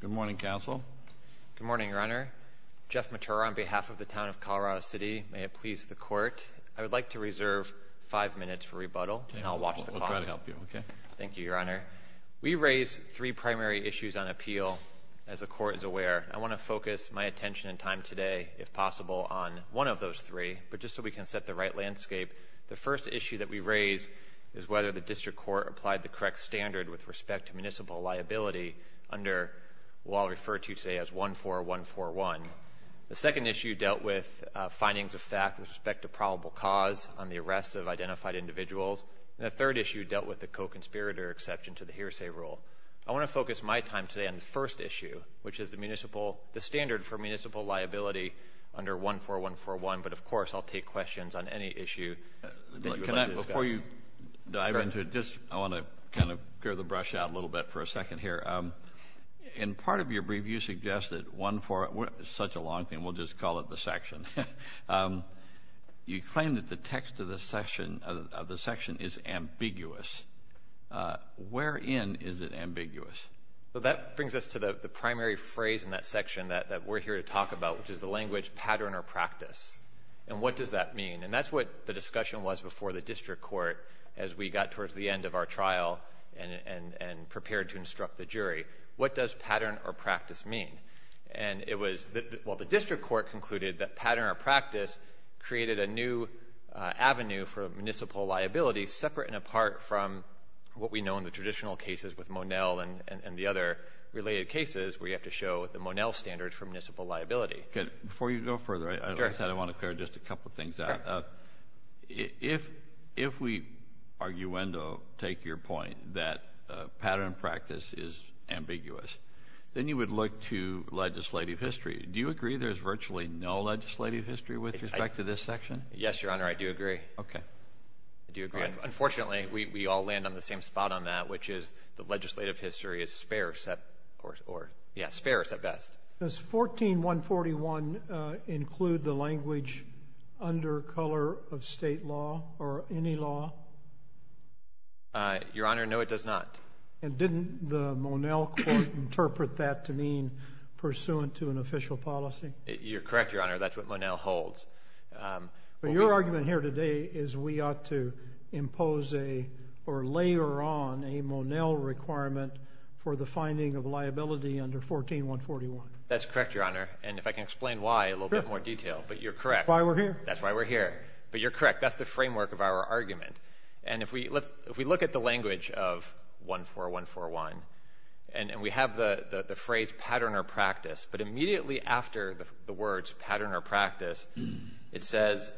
Good morning, Counsel. Good morning, Your Honor. Jeff Matura on behalf of the Town of Colorado City. May it please the Court. I would like to reserve five minutes for rebuttal, and I'll watch the call. We'll try to help you, okay? Thank you, Your Honor. We raise three primary issues on appeal, as the Court is aware. I want to focus my attention and time today, if possible, on one of those three, but just so we can set the right landscape. The first issue that we raise is whether the District Court applied the correct standard with respect to municipal liability under what I'll refer to today as 14141. The second issue dealt with findings of fact with respect to probable cause on the arrest of identified individuals. And the third issue dealt with the co-conspirator exception to the hearsay rule. I want to focus my time today on the first issue, which is the standard for municipal liability under 14141. But, of course, I'll take questions on any issue that you would like to discuss. Before you dive into it, I want to kind of clear the brush out a little bit for a second here. In part of your brief, you suggested one for such a long thing, we'll just call it the section. You claim that the text of the section is ambiguous. Wherein is it ambiguous? That brings us to the primary phrase in that section that we're here to talk about, which is the language pattern or practice. And what does that mean? And that's what the discussion was before the District Court as we got towards the end of our trial and prepared to instruct the jury. What does pattern or practice mean? And it was, well, the District Court concluded that pattern or practice created a new avenue for municipal liability, separate and apart from what we know in the traditional cases with Monell and the other related cases where you have to show the Monell standard for municipal liability. Before you go further, I want to clear just a couple of things out. If we, arguendo, take your point that pattern or practice is ambiguous, then you would look to legislative history. Do you agree there's virtually no legislative history with respect to this section? Yes, Your Honor, I do agree. Okay. Do you agree? Unfortunately, we all land on the same spot on that, which is the legislative history is sparse at best. Does 14-141 include the language under color of state law or any law? Your Honor, no, it does not. And didn't the Monell court interpret that to mean pursuant to an official policy? You're correct, Your Honor. That's what Monell holds. But your argument here today is we ought to impose or layer on a Monell requirement for the finding of liability under 14-141. That's correct, Your Honor. And if I can explain why in a little bit more detail, but you're correct. That's why we're here. That's why we're here. But you're correct. That's the framework of our argument. And if we look at the language of 14-141, and we have the phrase pattern or practice, but immediately after the words pattern or practice, it says,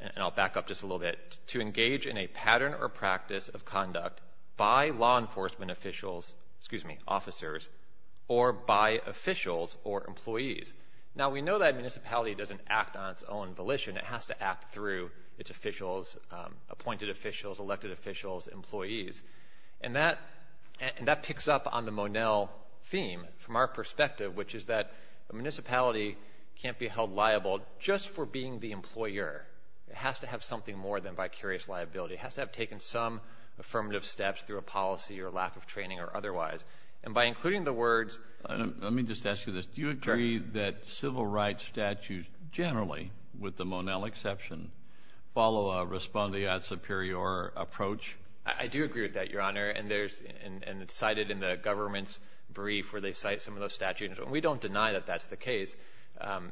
and I'll back up just a little bit, to engage in a pattern or practice of conduct by law enforcement officials, excuse me, officers, or by officials or employees. Now, we know that a municipality doesn't act on its own volition. It has to act through its officials, appointed officials, elected officials, employees. And that picks up on the Monell theme from our perspective, which is that a municipality can't be held liable just for being the employer. It has to have something more than vicarious liability. It has to have taken some affirmative steps through a policy or lack of training or otherwise. And by including the words – Let me just ask you this. Do you agree that civil rights statutes generally, with the Monell exception, follow a respondeat superior approach? I do agree with that, Your Honor. And it's cited in the government's brief where they cite some of those statutes. And we don't deny that that's the case.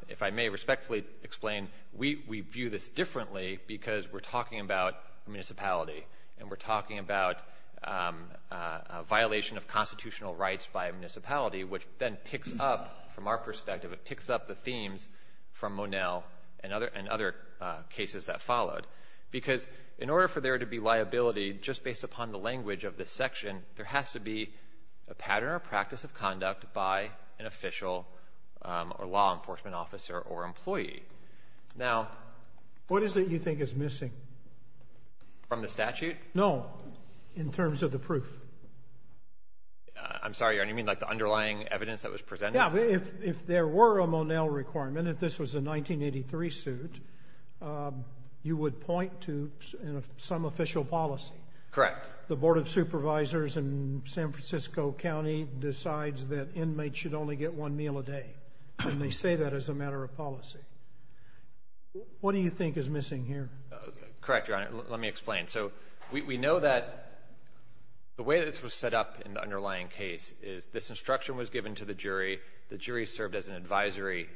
If I may respectfully explain, we view this differently because we're talking about a municipality, and we're talking about a violation of constitutional rights by a municipality, which then picks up from our perspective, it picks up the themes from Monell and other cases that followed. Because in order for there to be liability, just based upon the language of this section, there has to be a pattern or practice of conduct by an official or law enforcement officer or employee. Now – What is it you think is missing? From the statute? No. In terms of the proof. I'm sorry, Your Honor. You mean like the underlying evidence that was presented? Yeah. If there were a Monell requirement, if this was a 1983 suit, you would point to some official policy. Correct. The Board of Supervisors in San Francisco County decides that inmates should only get one meal a day. And they say that as a matter of policy. What do you think is missing here? Correct, Your Honor. Let me explain. So we know that the way this was set up in the underlying case is this instruction was given to the jury. The jury served as an advisory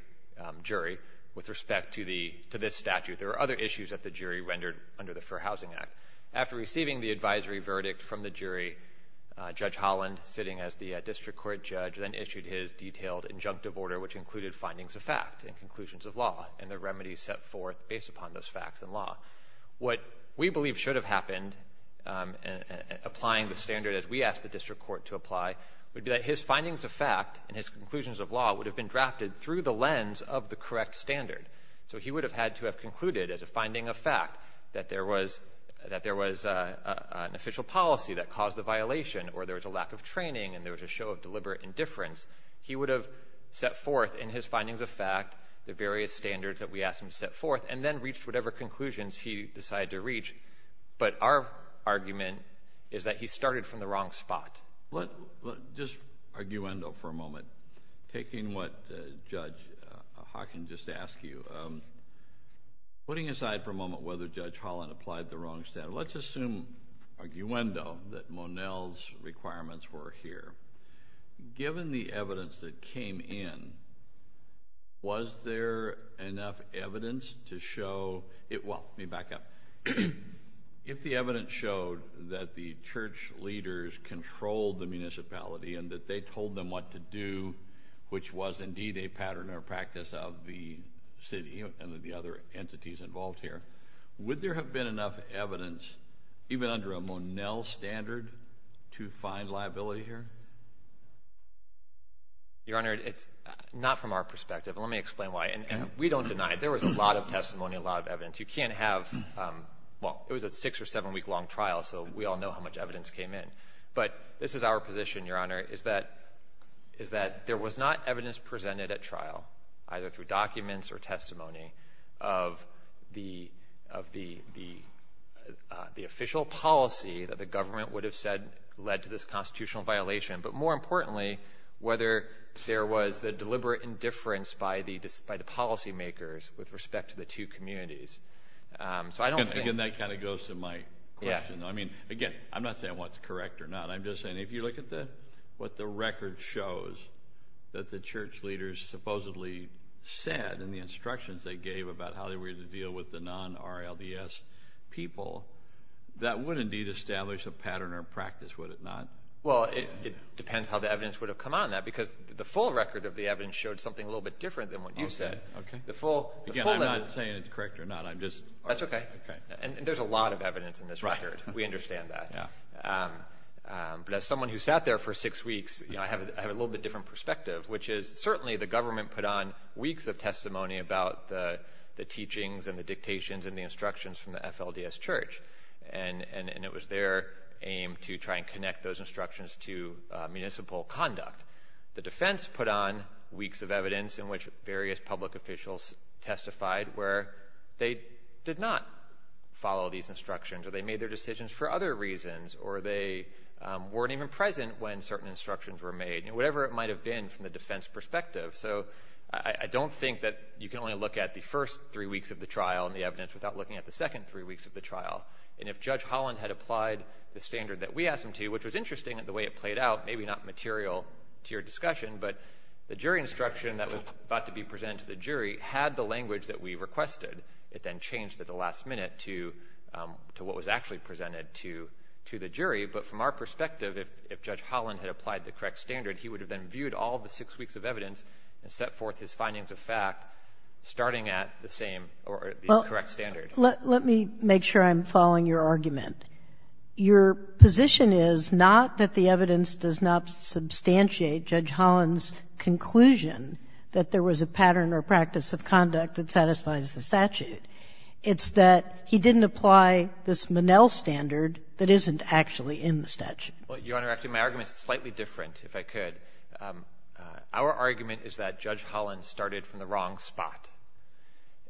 jury with respect to this statute. There were other issues that the jury rendered under the Fair Housing Act. After receiving the advisory verdict from the jury, Judge Holland, sitting as the district court judge, then issued his detailed injunctive order, which included findings of fact and conclusions of law, and the remedies set forth based upon those facts and law. What we believe should have happened, applying the standard as we asked the district court to apply, would be that his findings of fact and his conclusions of law would have been drafted through the lens of the correct standard. So he would have had to have concluded as a finding of fact that there was an official policy that caused the violation or there was a lack of training and there was a show of deliberate indifference. He would have set forth in his findings of fact the various standards that we asked him to set forth and then reached whatever conclusions he decided to reach. But our argument is that he started from the wrong spot. Just arguendo for a moment. Taking what Judge Hawkins just asked you, putting aside for a moment whether Judge Holland applied the wrong standard, let's assume arguendo that Monel's requirements were here. Given the evidence that came in, was there enough evidence to show it? Well, let me back up. If the evidence showed that the church leaders controlled the municipality and that they told them what to do, which was indeed a pattern or practice of the city and of the other entities involved here, would there have been enough evidence, even under a Monel standard, to find liability here? Your Honor, it's not from our perspective. Let me explain why. We don't deny it. There was a lot of testimony, a lot of evidence. You can't have, well, it was a six- or seven-week-long trial, so we all know how much evidence came in. But this is our position, Your Honor, is that there was not evidence presented at trial, either through documents or testimony, of the official policy that the government would have said led to this constitutional violation, but more importantly, whether there was the deliberate indifference by the policymakers with respect to the two communities. Again, that kind of goes to my question. I mean, again, I'm not saying what's correct or not. I'm just saying if you look at what the record shows that the church leaders supposedly said and the instructions they gave about how they were going to deal with the non-RLDS people, that would indeed establish a pattern or practice, would it not? Well, it depends how the evidence would have come out of that because the full record of the evidence showed something a little bit different than what you said. Okay. Again, I'm not saying it's correct or not. That's okay. Okay. And there's a lot of evidence in this record. Right. We understand that. Yeah. But as someone who sat there for six weeks, I have a little bit different perspective, which is certainly the government put on weeks of testimony about the teachings and the dictations and the instructions from the FLDS church, and it was their aim to try and connect those instructions to municipal conduct. The defense put on weeks of evidence in which various public officials testified where they did not follow these instructions or they made their decisions for other reasons or they weren't even present when certain instructions were made, whatever it might have been from the defense perspective. So I don't think that you can only look at the first three weeks of the trial and the evidence without looking at the second three weeks of the trial. And if Judge Holland had applied the standard that we asked him to, which was interesting in the way it played out, maybe not material to your discussion, but the jury instruction that was about to be presented to the jury had the language that we requested. It then changed at the last minute to what was actually presented to the jury. But from our perspective, if Judge Holland had applied the correct standard, he would have then viewed all the six weeks of evidence and set forth his findings of fact, starting at the same or the correct standard. Well, let me make sure I'm following your argument. Your position is not that the evidence does not substantiate Judge Holland's conclusion that there was a pattern or practice of conduct that satisfies the statute. It's that he didn't apply this Minnell standard that isn't actually in the statute. Well, Your Honor, actually, my argument is slightly different, if I could. Our argument is that Judge Holland started from the wrong spot,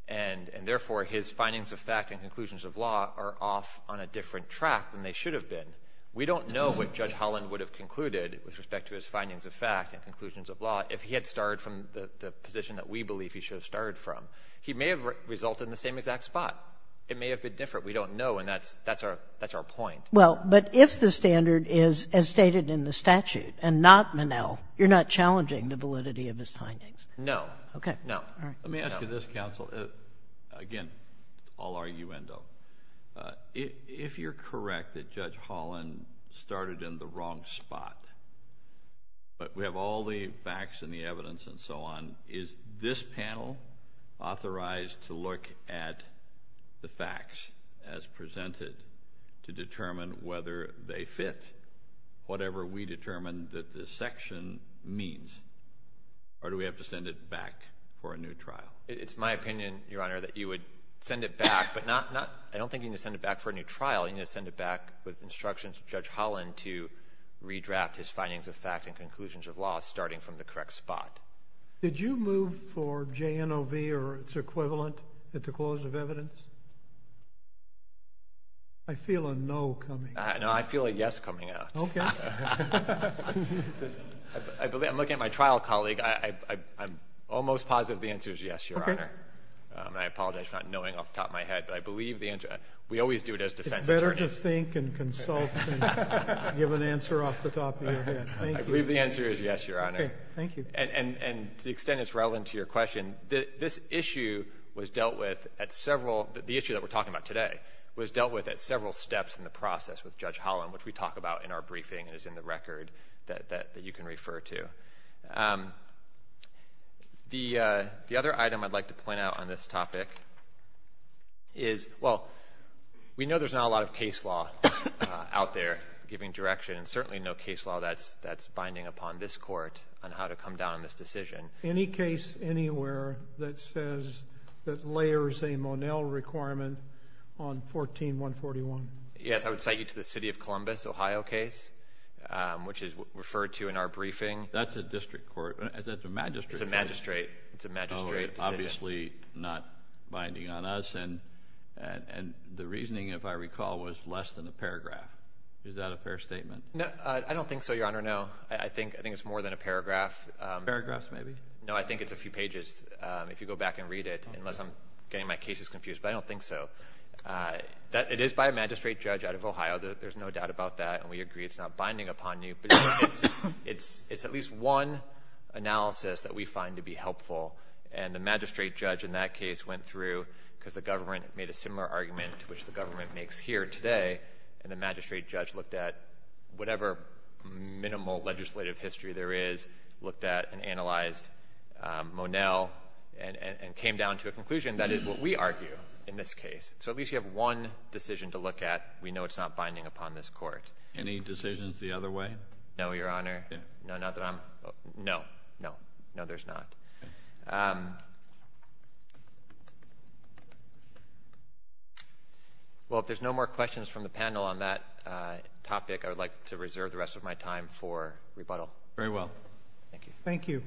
and therefore his findings of fact and conclusions of law are off on a different track than they should have been. We don't know what Judge Holland would have concluded with respect to his findings of fact and conclusions of law if he had started from the position that we believe he should have started from. He may have resulted in the same exact spot. It may have been different. We don't know, and that's our point. Well, but if the standard is as stated in the statute and not Minnell, you're not challenging the validity of his findings? No. Okay. No. All right. Let me ask you this, counsel. Again, all arguendo. If you're correct that Judge Holland started in the wrong spot, but we have all the facts and the evidence and so on, is this panel authorized to look at the facts as presented to determine whether they fit whatever we determine that this section means, or do we have to send it back for a new trial? It's my opinion, Your Honor, that you would send it back, but I don't think you need to send it back for a new trial. You need to send it back with instructions from Judge Holland to redraft his findings of fact and conclusions of law starting from the correct spot. Did you move for JNOV or its equivalent at the clause of evidence? I feel a no coming out. No, I feel a yes coming out. Okay. I'm looking at my trial colleague. I'm almost positive the answer is yes, Your Honor. Okay. I apologize for not knowing off the top of my head, but I believe the answer. We always do it as defense attorneys. It's better to think and consult and give an answer off the top of your head. Thank you. I believe the answer is yes, Your Honor. Okay. Thank you. And to the extent it's relevant to your question, this issue was dealt with at several – the issue that we're talking about today was dealt with at several steps in the process with Judge Holland, which we talk about in our briefing and is in the record that you can refer to. The other item I'd like to point out on this topic is, well, we know there's not a lot of case law out there giving direction and certainly no case law that's binding upon this court on how to come down on this decision. Any case anywhere that says that layers a Monell requirement on 14-141? Yes. I would cite you to the City of Columbus, Ohio case, which is referred to in our briefing. That's a district court. That's a magistrate court. It's a magistrate. It's a magistrate decision. Obviously not binding on us. And the reasoning, if I recall, was less than a paragraph. Is that a fair statement? I don't think so, Your Honor, no. I think it's more than a paragraph. Paragraphs maybe? No, I think it's a few pages if you go back and read it, unless I'm getting my cases confused, but I don't think so. It is by a magistrate judge out of Ohio. There's no doubt about that, and we agree it's not binding upon you. But it's at least one analysis that we find to be helpful, and the magistrate judge in that case went through, because the government made a similar argument to which the government makes here today, and the magistrate judge looked at whatever minimal legislative history there is, and that is what we argue in this case. So at least you have one decision to look at. We know it's not binding upon this court. Any decisions the other way? No, Your Honor. No, there's not. Well, if there's no more questions from the panel on that topic, I would like to reserve the rest of my time for rebuttal. Very well. Thank you. Thank you.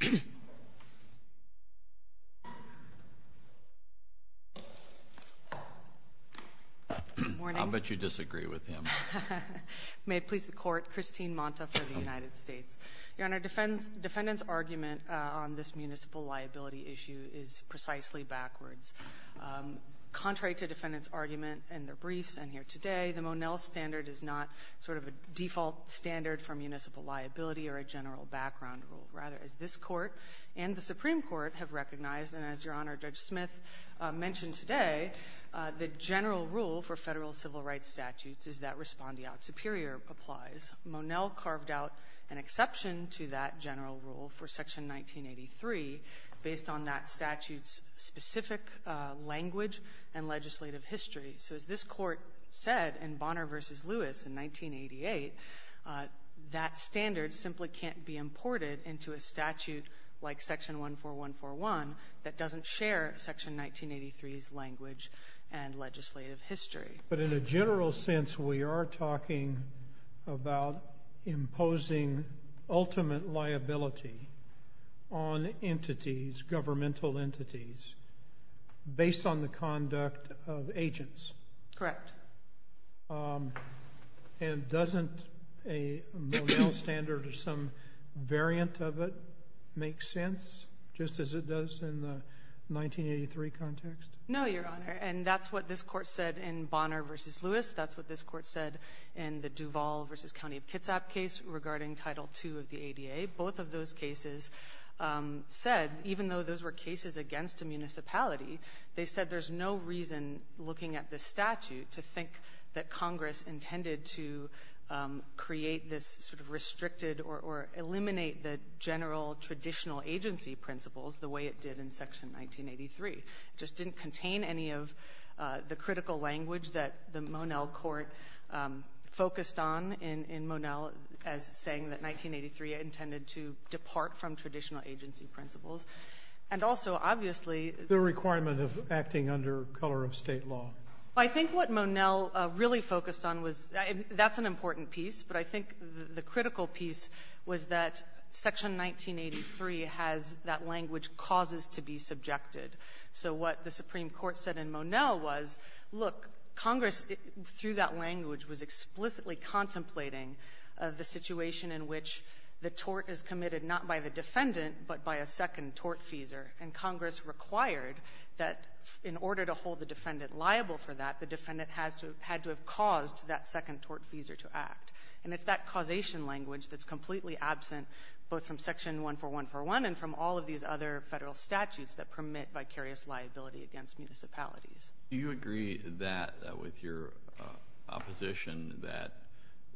Good morning. I'll bet you disagree with him. May it please the Court. Christine Monta for the United States. Your Honor, the defendant's argument on this municipal liability issue is precisely backwards. Contrary to the defendant's argument in their briefs and here today, the Monell standard is not sort of a default standard for municipal liability or a general background rule. Rather, as this Court and the Supreme Court have recognized, and as Your Honor, Judge Smith mentioned today, the general rule for federal civil rights statutes is that respondeat superior applies. Monell carved out an exception to that general rule for Section 1983 based on that statute's specific language and legislative history. So as this Court said in Bonner v. Lewis in 1988, that standard simply can't be imported into a statute like Section 14141 that doesn't share Section 1983's language and legislative history. But in a general sense, we are talking about imposing ultimate liability on entities, governmental entities, based on the conduct of agents. Correct. And doesn't a Monell standard or some variant of it make sense, just as it does in the 1983 context? No, Your Honor, and that's what this Court said in Bonner v. Lewis. That's what this Court said in the Duval v. County of Kitsap case regarding Title II of the ADA. Both of those cases said, even though those were cases against a municipality, they said there's no reason, looking at the statute, to think that Congress intended to create this sort of restricted or eliminate the general traditional agency principles the way it did in Section 1983. It just didn't contain any of the critical language that the Monell Court focused on in Monell as saying that 1983 intended to depart from traditional agency principles. And also, obviously— The requirement of acting under color of state law. I think what Monell really focused on was—that's an important piece, but I think the critical piece was that Section 1983 has that language causes to be subjected. So what the Supreme Court said in Monell was, look, Congress, through that language, was explicitly contemplating the situation in which the tort is committed not by the defendant but by a second tortfeasor, and Congress required that in order to hold the defendant liable for that, the defendant had to have caused that second tortfeasor to act. And it's that causation language that's completely absent, both from Section 14141 and from all of these other federal statutes that permit vicarious liability against municipalities. Do you agree with your opposition that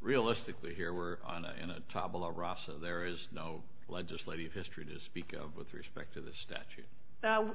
realistically here we're in a tabula rasa? There is no legislative history to speak of with respect to this statute?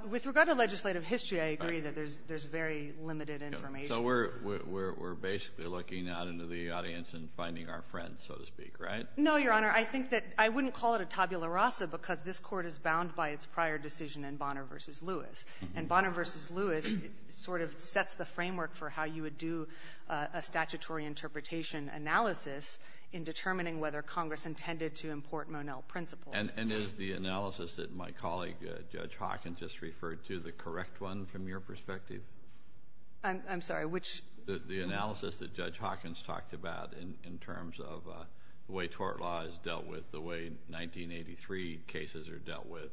With regard to legislative history, I agree that there's very limited information. So we're basically looking out into the audience and finding our friends, so to speak, right? No, Your Honor. I think that—I wouldn't call it a tabula rasa because this Court is bound by its prior decision in Bonner v. Lewis. And Bonner v. Lewis sort of sets the framework for how you would do a statutory interpretation analysis in determining whether Congress intended to import Monell principles. And is the analysis that my colleague, Judge Hawkins, just referred to the correct one from your perspective? I'm sorry, which— The analysis that Judge Hawkins talked about in terms of the way tort law is dealt with, the way 1983 cases are dealt with,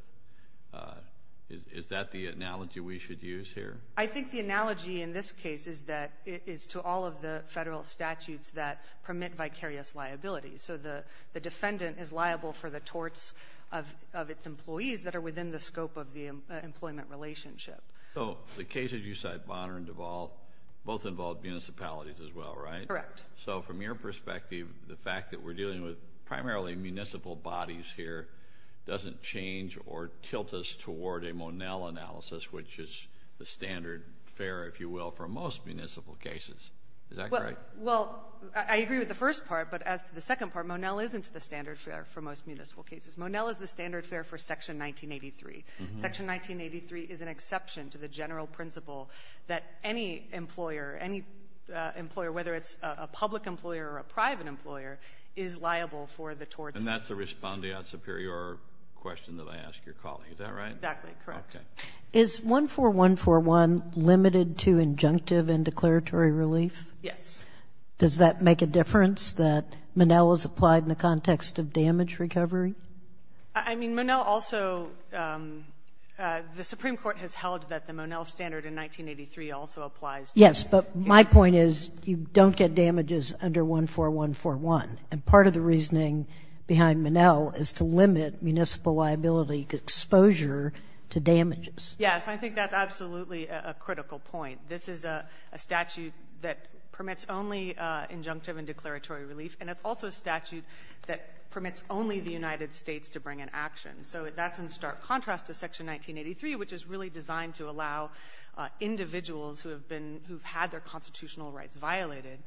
is that the analogy we should use here? I think the analogy in this case is to all of the federal statutes that permit vicarious liability. So the defendant is liable for the torts of its employees that are within the scope of the employment relationship. So the cases you cite, Bonner and DeVault, both involve municipalities as well, right? Correct. So from your perspective, the fact that we're dealing with primarily municipal bodies here doesn't change or tilt us toward a Monell analysis, which is the standard fare, if you will, for most municipal cases. Is that correct? Well, I agree with the first part, but as to the second part, Monell isn't the standard fare for most municipal cases. Monell is the standard fare for Section 1983. Section 1983 is an exception to the general principle that any employer, whether it's a public employer or a private employer, is liable for the torts. And that's the respondeat superior question that I asked your colleague. Is that right? Exactly, correct. Okay. Is 14141 limited to injunctive and declaratory relief? Yes. Does that make a difference that Monell is applied in the context of damage recovery? I mean, Monell also, the Supreme Court has held that the Monell standard in 1983 also applies to damage. Yes, but my point is you don't get damages under 14141. And part of the reasoning behind Monell is to limit municipal liability exposure to damages. Yes, I think that's absolutely a critical point. This is a statute that permits only injunctive and declaratory relief, and it's also a statute that permits only the United States to bring an action. So that's in stark contrast to Section 1983, which is really designed to allow individuals who have had their constitutional rights violated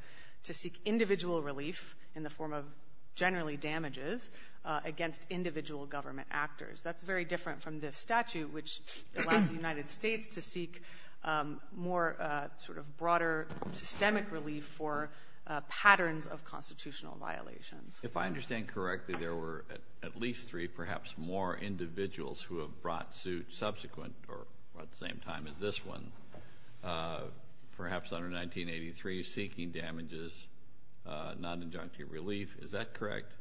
to seek individual relief in the form of generally damages against individual government actors. That's very different from this statute, which allows the United States to seek more sort of broader systemic relief for patterns of constitutional violations. If I understand correctly, there were at least three, perhaps more, individuals who have brought suit subsequent or at the same time as this one, perhaps under 1983, seeking damages, not injunctive relief. Is that correct?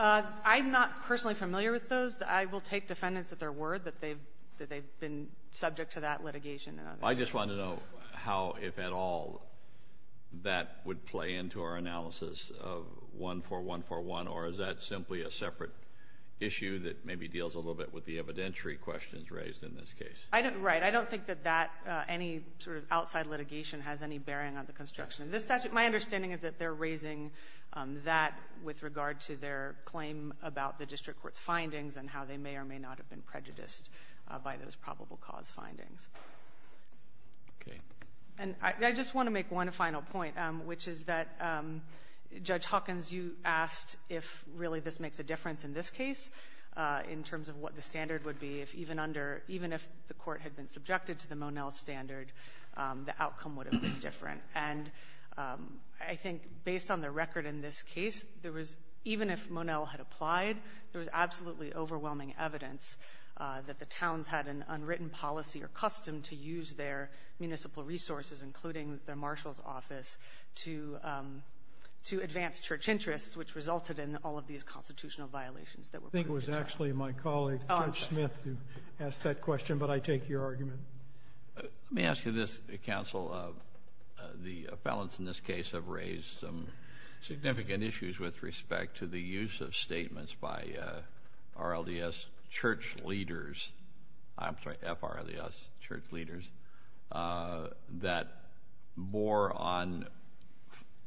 I'm not personally familiar with those. I will take defendants at their word that they've been subject to that litigation. I just want to know how, if at all, that would play into our analysis of 14141, or is that simply a separate issue that maybe deals a little bit with the evidentiary questions raised in this case? Right. I don't think that any sort of outside litigation has any bearing on the construction of this statute. My understanding is that they're raising that with regard to their claim about the district court's findings and how they may or may not have been prejudiced by those probable cause findings. I just want to make one final point, which is that, Judge Hawkins, you asked if really this makes a difference in this case, in terms of what the standard would be if even if the court had been subjected to the Monell standard, the outcome would have been different. I think based on the record in this case, even if Monell had applied, there was absolutely overwhelming evidence that the towns had an unwritten policy or custom to use their municipal resources, including their marshal's office, to advance church interests, which resulted in all of these constitutional violations. I think it was actually my colleague, Judge Smith, who asked that question, but I take your argument. Let me ask you this, Counsel. The felons in this case have raised some significant issues with respect to the use of statements by RLDS church leaders, I'm sorry, FRLDS church leaders, that bore on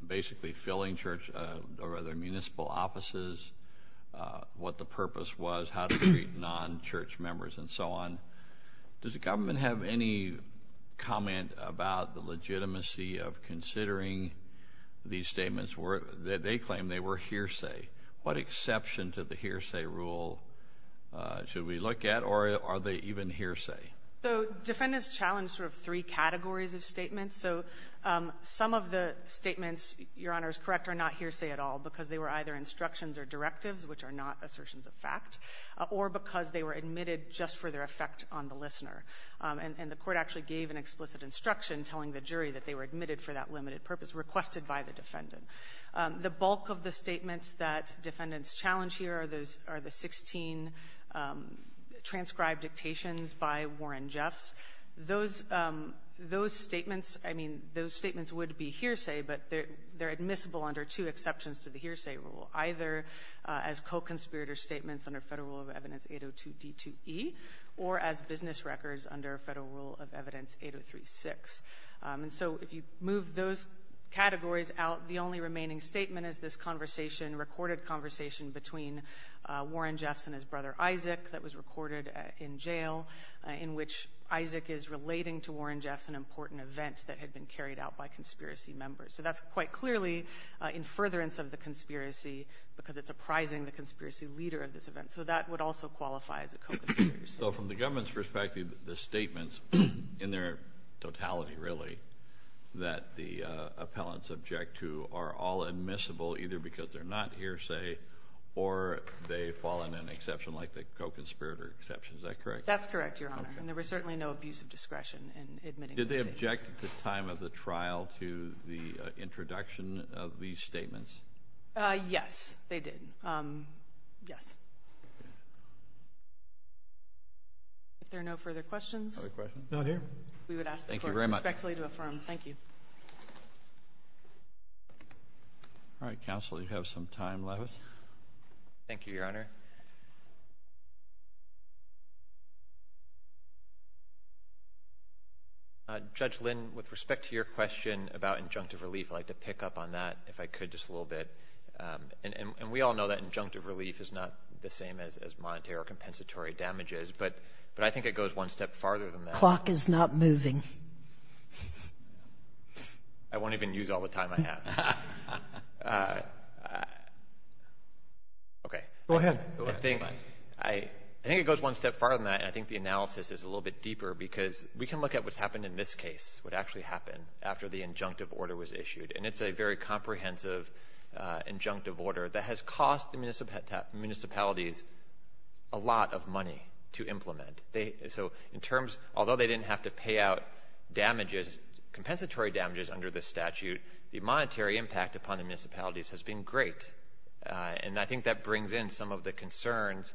basically filling church or other municipal offices, what the purpose was, how to treat non-church members, and so on. Does the government have any comment about the legitimacy of considering these statements? They claim they were hearsay. What exception to the hearsay rule should we look at, or are they even hearsay? The defendants challenged sort of three categories of statements. Some of the statements, Your Honor, is correct, are not hearsay at all, because they were either instructions or directives, which are not assertions of fact, or because they were admitted just for their effect on the listener. And the court actually gave an explicit instruction telling the jury that they were admitted for that limited purpose, requested by the defendant. The bulk of the statements that defendants challenge here are the 16 transcribed dictations by Warren Jeffs. Those statements, I mean, those statements would be hearsay, but they're admissible under two exceptions to the hearsay rule, either as co-conspirator statements under Federal Rule of Evidence 802D2E, or as business records under Federal Rule of Evidence 803-6. And so if you move those categories out, the only remaining statement is this conversation, recorded conversation between Warren Jeffs and his brother Isaac that was recorded in jail, in which Isaac is relating to Warren Jeffs an important event that had been carried out by conspiracy members. So that's quite clearly in furtherance of the conspiracy, because it's apprising the conspiracy leader of this event. So that would also qualify as a co-conspirator statement. So from the government's perspective, the statements in their totality, really, that the appellants object to are all admissible either because they're not hearsay or they fall in an exception like the co-conspirator exception. Is that correct? That's correct, Your Honor, and there was certainly no abuse of discretion in admitting those statements. Did they object at the time of the trial to the introduction of these statements? Yes, they did. Yes. If there are no further questions, we would ask the Court respectfully to affirm. Thank you. All right, counsel, you have some time left. Thank you, Your Honor. Judge Lynn, with respect to your question about injunctive relief, I'd like to pick up on that, if I could, just a little bit. And we all know that injunctive relief is not the same as monetary or compensatory damages, but I think it goes one step farther than that. The clock is not moving. I won't even use all the time I have. Okay. Go ahead. I think it goes one step farther than that, and I think the analysis is a little bit deeper because we can look at what's happened in this case, what actually happened after the injunctive order was issued, and it's a very comprehensive injunctive order that has cost the municipalities a lot of money to implement. Although they didn't have to pay out compensatory damages under the statute, the monetary impact upon the municipalities has been great, and I think that brings in some of the concerns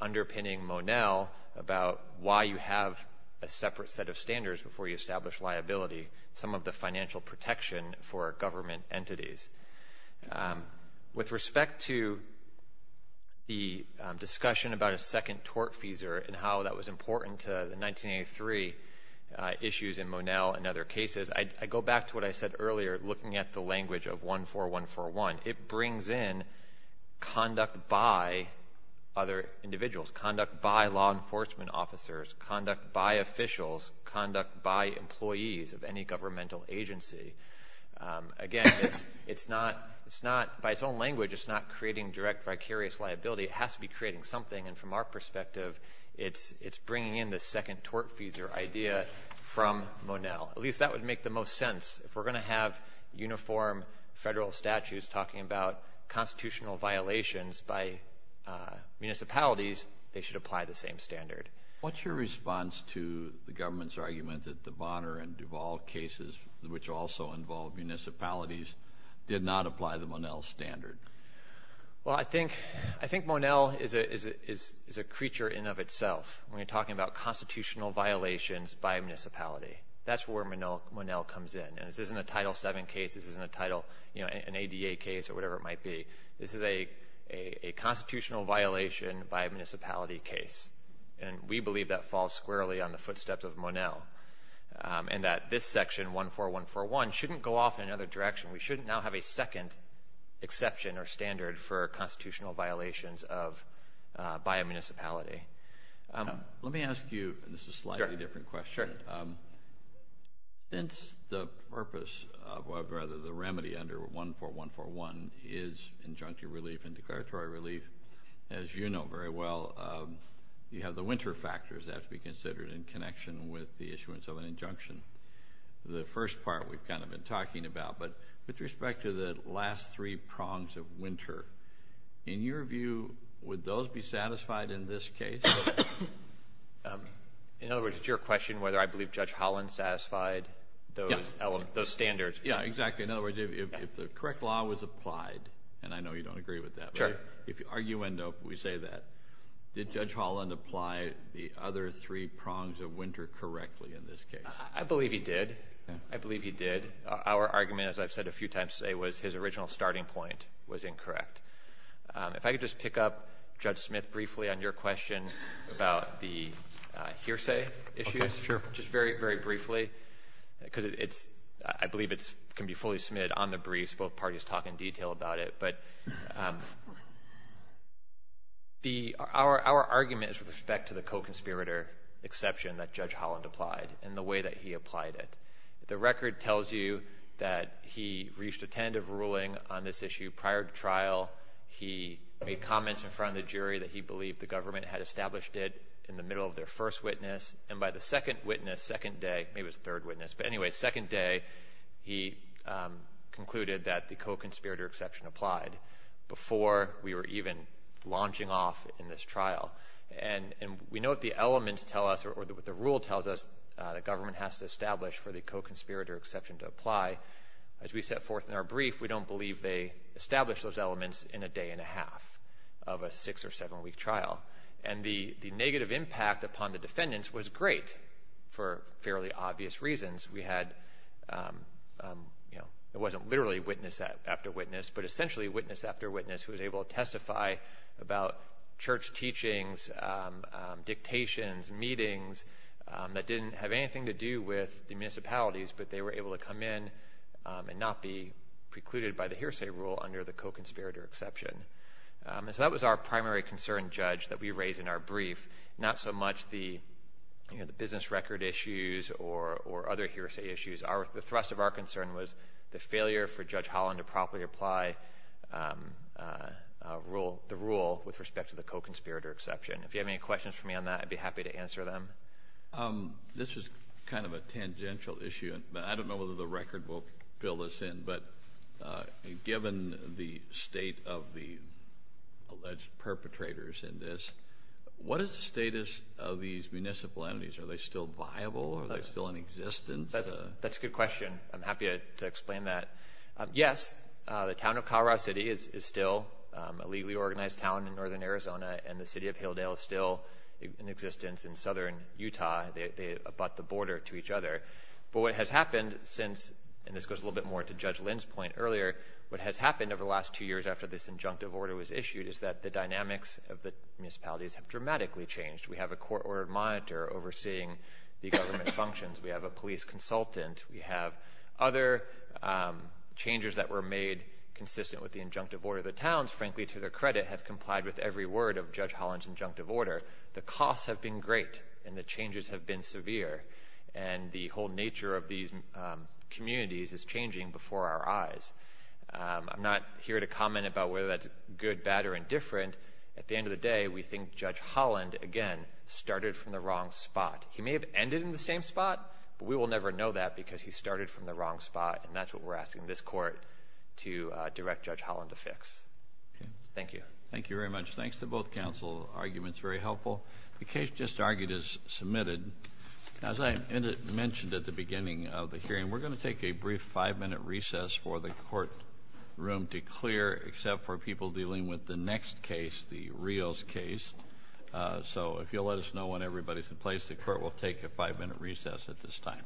underpinning Monell about why you have a separate set of standards before you establish liability, some of the financial protection for government entities. With respect to the discussion about a second tort fees and how that was important to the 1983 issues in Monell and other cases, I go back to what I said earlier, looking at the language of 14141. It brings in conduct by other individuals, conduct by law enforcement officers, conduct by officials, conduct by employees of any governmental agency. Again, by its own language, it's not creating direct vicarious liability. It has to be creating something, and from our perspective, it's bringing in the second tort fees or idea from Monell. At least that would make the most sense. If we're going to have uniform federal statutes talking about constitutional violations by municipalities, they should apply the same standard. What's your response to the government's argument that the Bonner and Duval cases, which also involve municipalities, did not apply the Monell standard? Well, I think Monell is a creature in and of itself when you're talking about constitutional violations by a municipality. That's where Monell comes in, and this isn't a Title VII case. This isn't an ADA case or whatever it might be. This is a constitutional violation by a municipality case, and we believe that falls squarely on the footsteps of Monell, and that this section, 14141, shouldn't go off in another direction. We shouldn't now have a second exception or standard for constitutional violations by a municipality. Let me ask you, and this is a slightly different question. Sure. Since the purpose of the remedy under 14141 is injunctive relief and declaratory relief, as you know very well, you have the winter factors that have to be considered in connection with the issuance of an injunction. The first part we've kind of been talking about, but with respect to the last three prongs of winter, in your view, would those be satisfied in this case? In other words, it's your question whether I believe Judge Holland satisfied those standards. Yeah, exactly. In other words, if the correct law was applied, and I know you don't agree with that. Sure. If you argue endo, we say that. Did Judge Holland apply the other three prongs of winter correctly in this case? I believe he did. I believe he did. Our argument, as I've said a few times today, was his original starting point was incorrect. If I could just pick up, Judge Smith, briefly on your question about the hearsay issues. Sure. Just very, very briefly, because I believe it can be fully submitted on the briefs. Both parties talk in detail about it. But our argument is with respect to the co-conspirator exception that Judge Holland applied and the way that he applied it. The record tells you that he reached a tentative ruling on this issue prior to trial. He made comments in front of the jury that he believed the government had established it in the middle of their first witness. And by the second witness, second day, maybe it was third witness, but anyway, second day, he concluded that the co-conspirator exception applied before we were even launching off in this trial. And we know what the elements tell us, or what the rule tells us, the government has to establish for the co-conspirator exception to apply. As we set forth in our brief, we don't believe they established those elements in a day and a half of a six- or seven-week trial. And the negative impact upon the defendants was great for fairly obvious reasons. We had, you know, it wasn't literally witness after witness, but essentially witness after witness who was able to testify about church teachings, dictations, meetings, that didn't have anything to do with the municipalities, but they were able to come in and not be precluded by the hearsay rule under the co-conspirator exception. And so that was our primary concern, Judge, that we raised in our brief, not so much the business record issues or other hearsay issues. The thrust of our concern was the failure for Judge Holland to properly apply the rule with respect to the co-conspirator exception. If you have any questions for me on that, I'd be happy to answer them. This is kind of a tangential issue, and I don't know whether the record will fill this in, but given the state of the alleged perpetrators in this, what is the status of these municipal entities? Are they still viable? Are they still in existence? That's a good question. I'm happy to explain that. Yes, the town of Colorado City is still a legally organized town in northern Arizona, and the city of Hilldale is still in existence in southern Utah. They abut the border to each other. But what has happened since, and this goes a little bit more to Judge Lynn's point earlier, what has happened over the last two years after this injunctive order was issued is that the dynamics of the municipalities have dramatically changed. We have a court-ordered monitor overseeing the government functions. We have a police consultant. We have other changes that were made consistent with the injunctive order. The towns, frankly, to their credit, have complied with every word of Judge Holland's injunctive order. The costs have been great, and the changes have been severe, and the whole nature of these communities is changing before our eyes. I'm not here to comment about whether that's good, bad, or indifferent. At the end of the day, we think Judge Holland, again, started from the wrong spot. He may have ended in the same spot, but we will never know that because he started from the wrong spot, and that's what we're asking this court to direct Judge Holland to fix. Thank you. Thank you very much. Thanks to both counsel. The argument is very helpful. The case just argued is submitted. As I mentioned at the beginning of the hearing, we're going to take a brief five-minute recess for the courtroom to clear, except for people dealing with the next case, the Rios case. So if you'll let us know when everybody's in place, the court will take a five-minute recess at this time.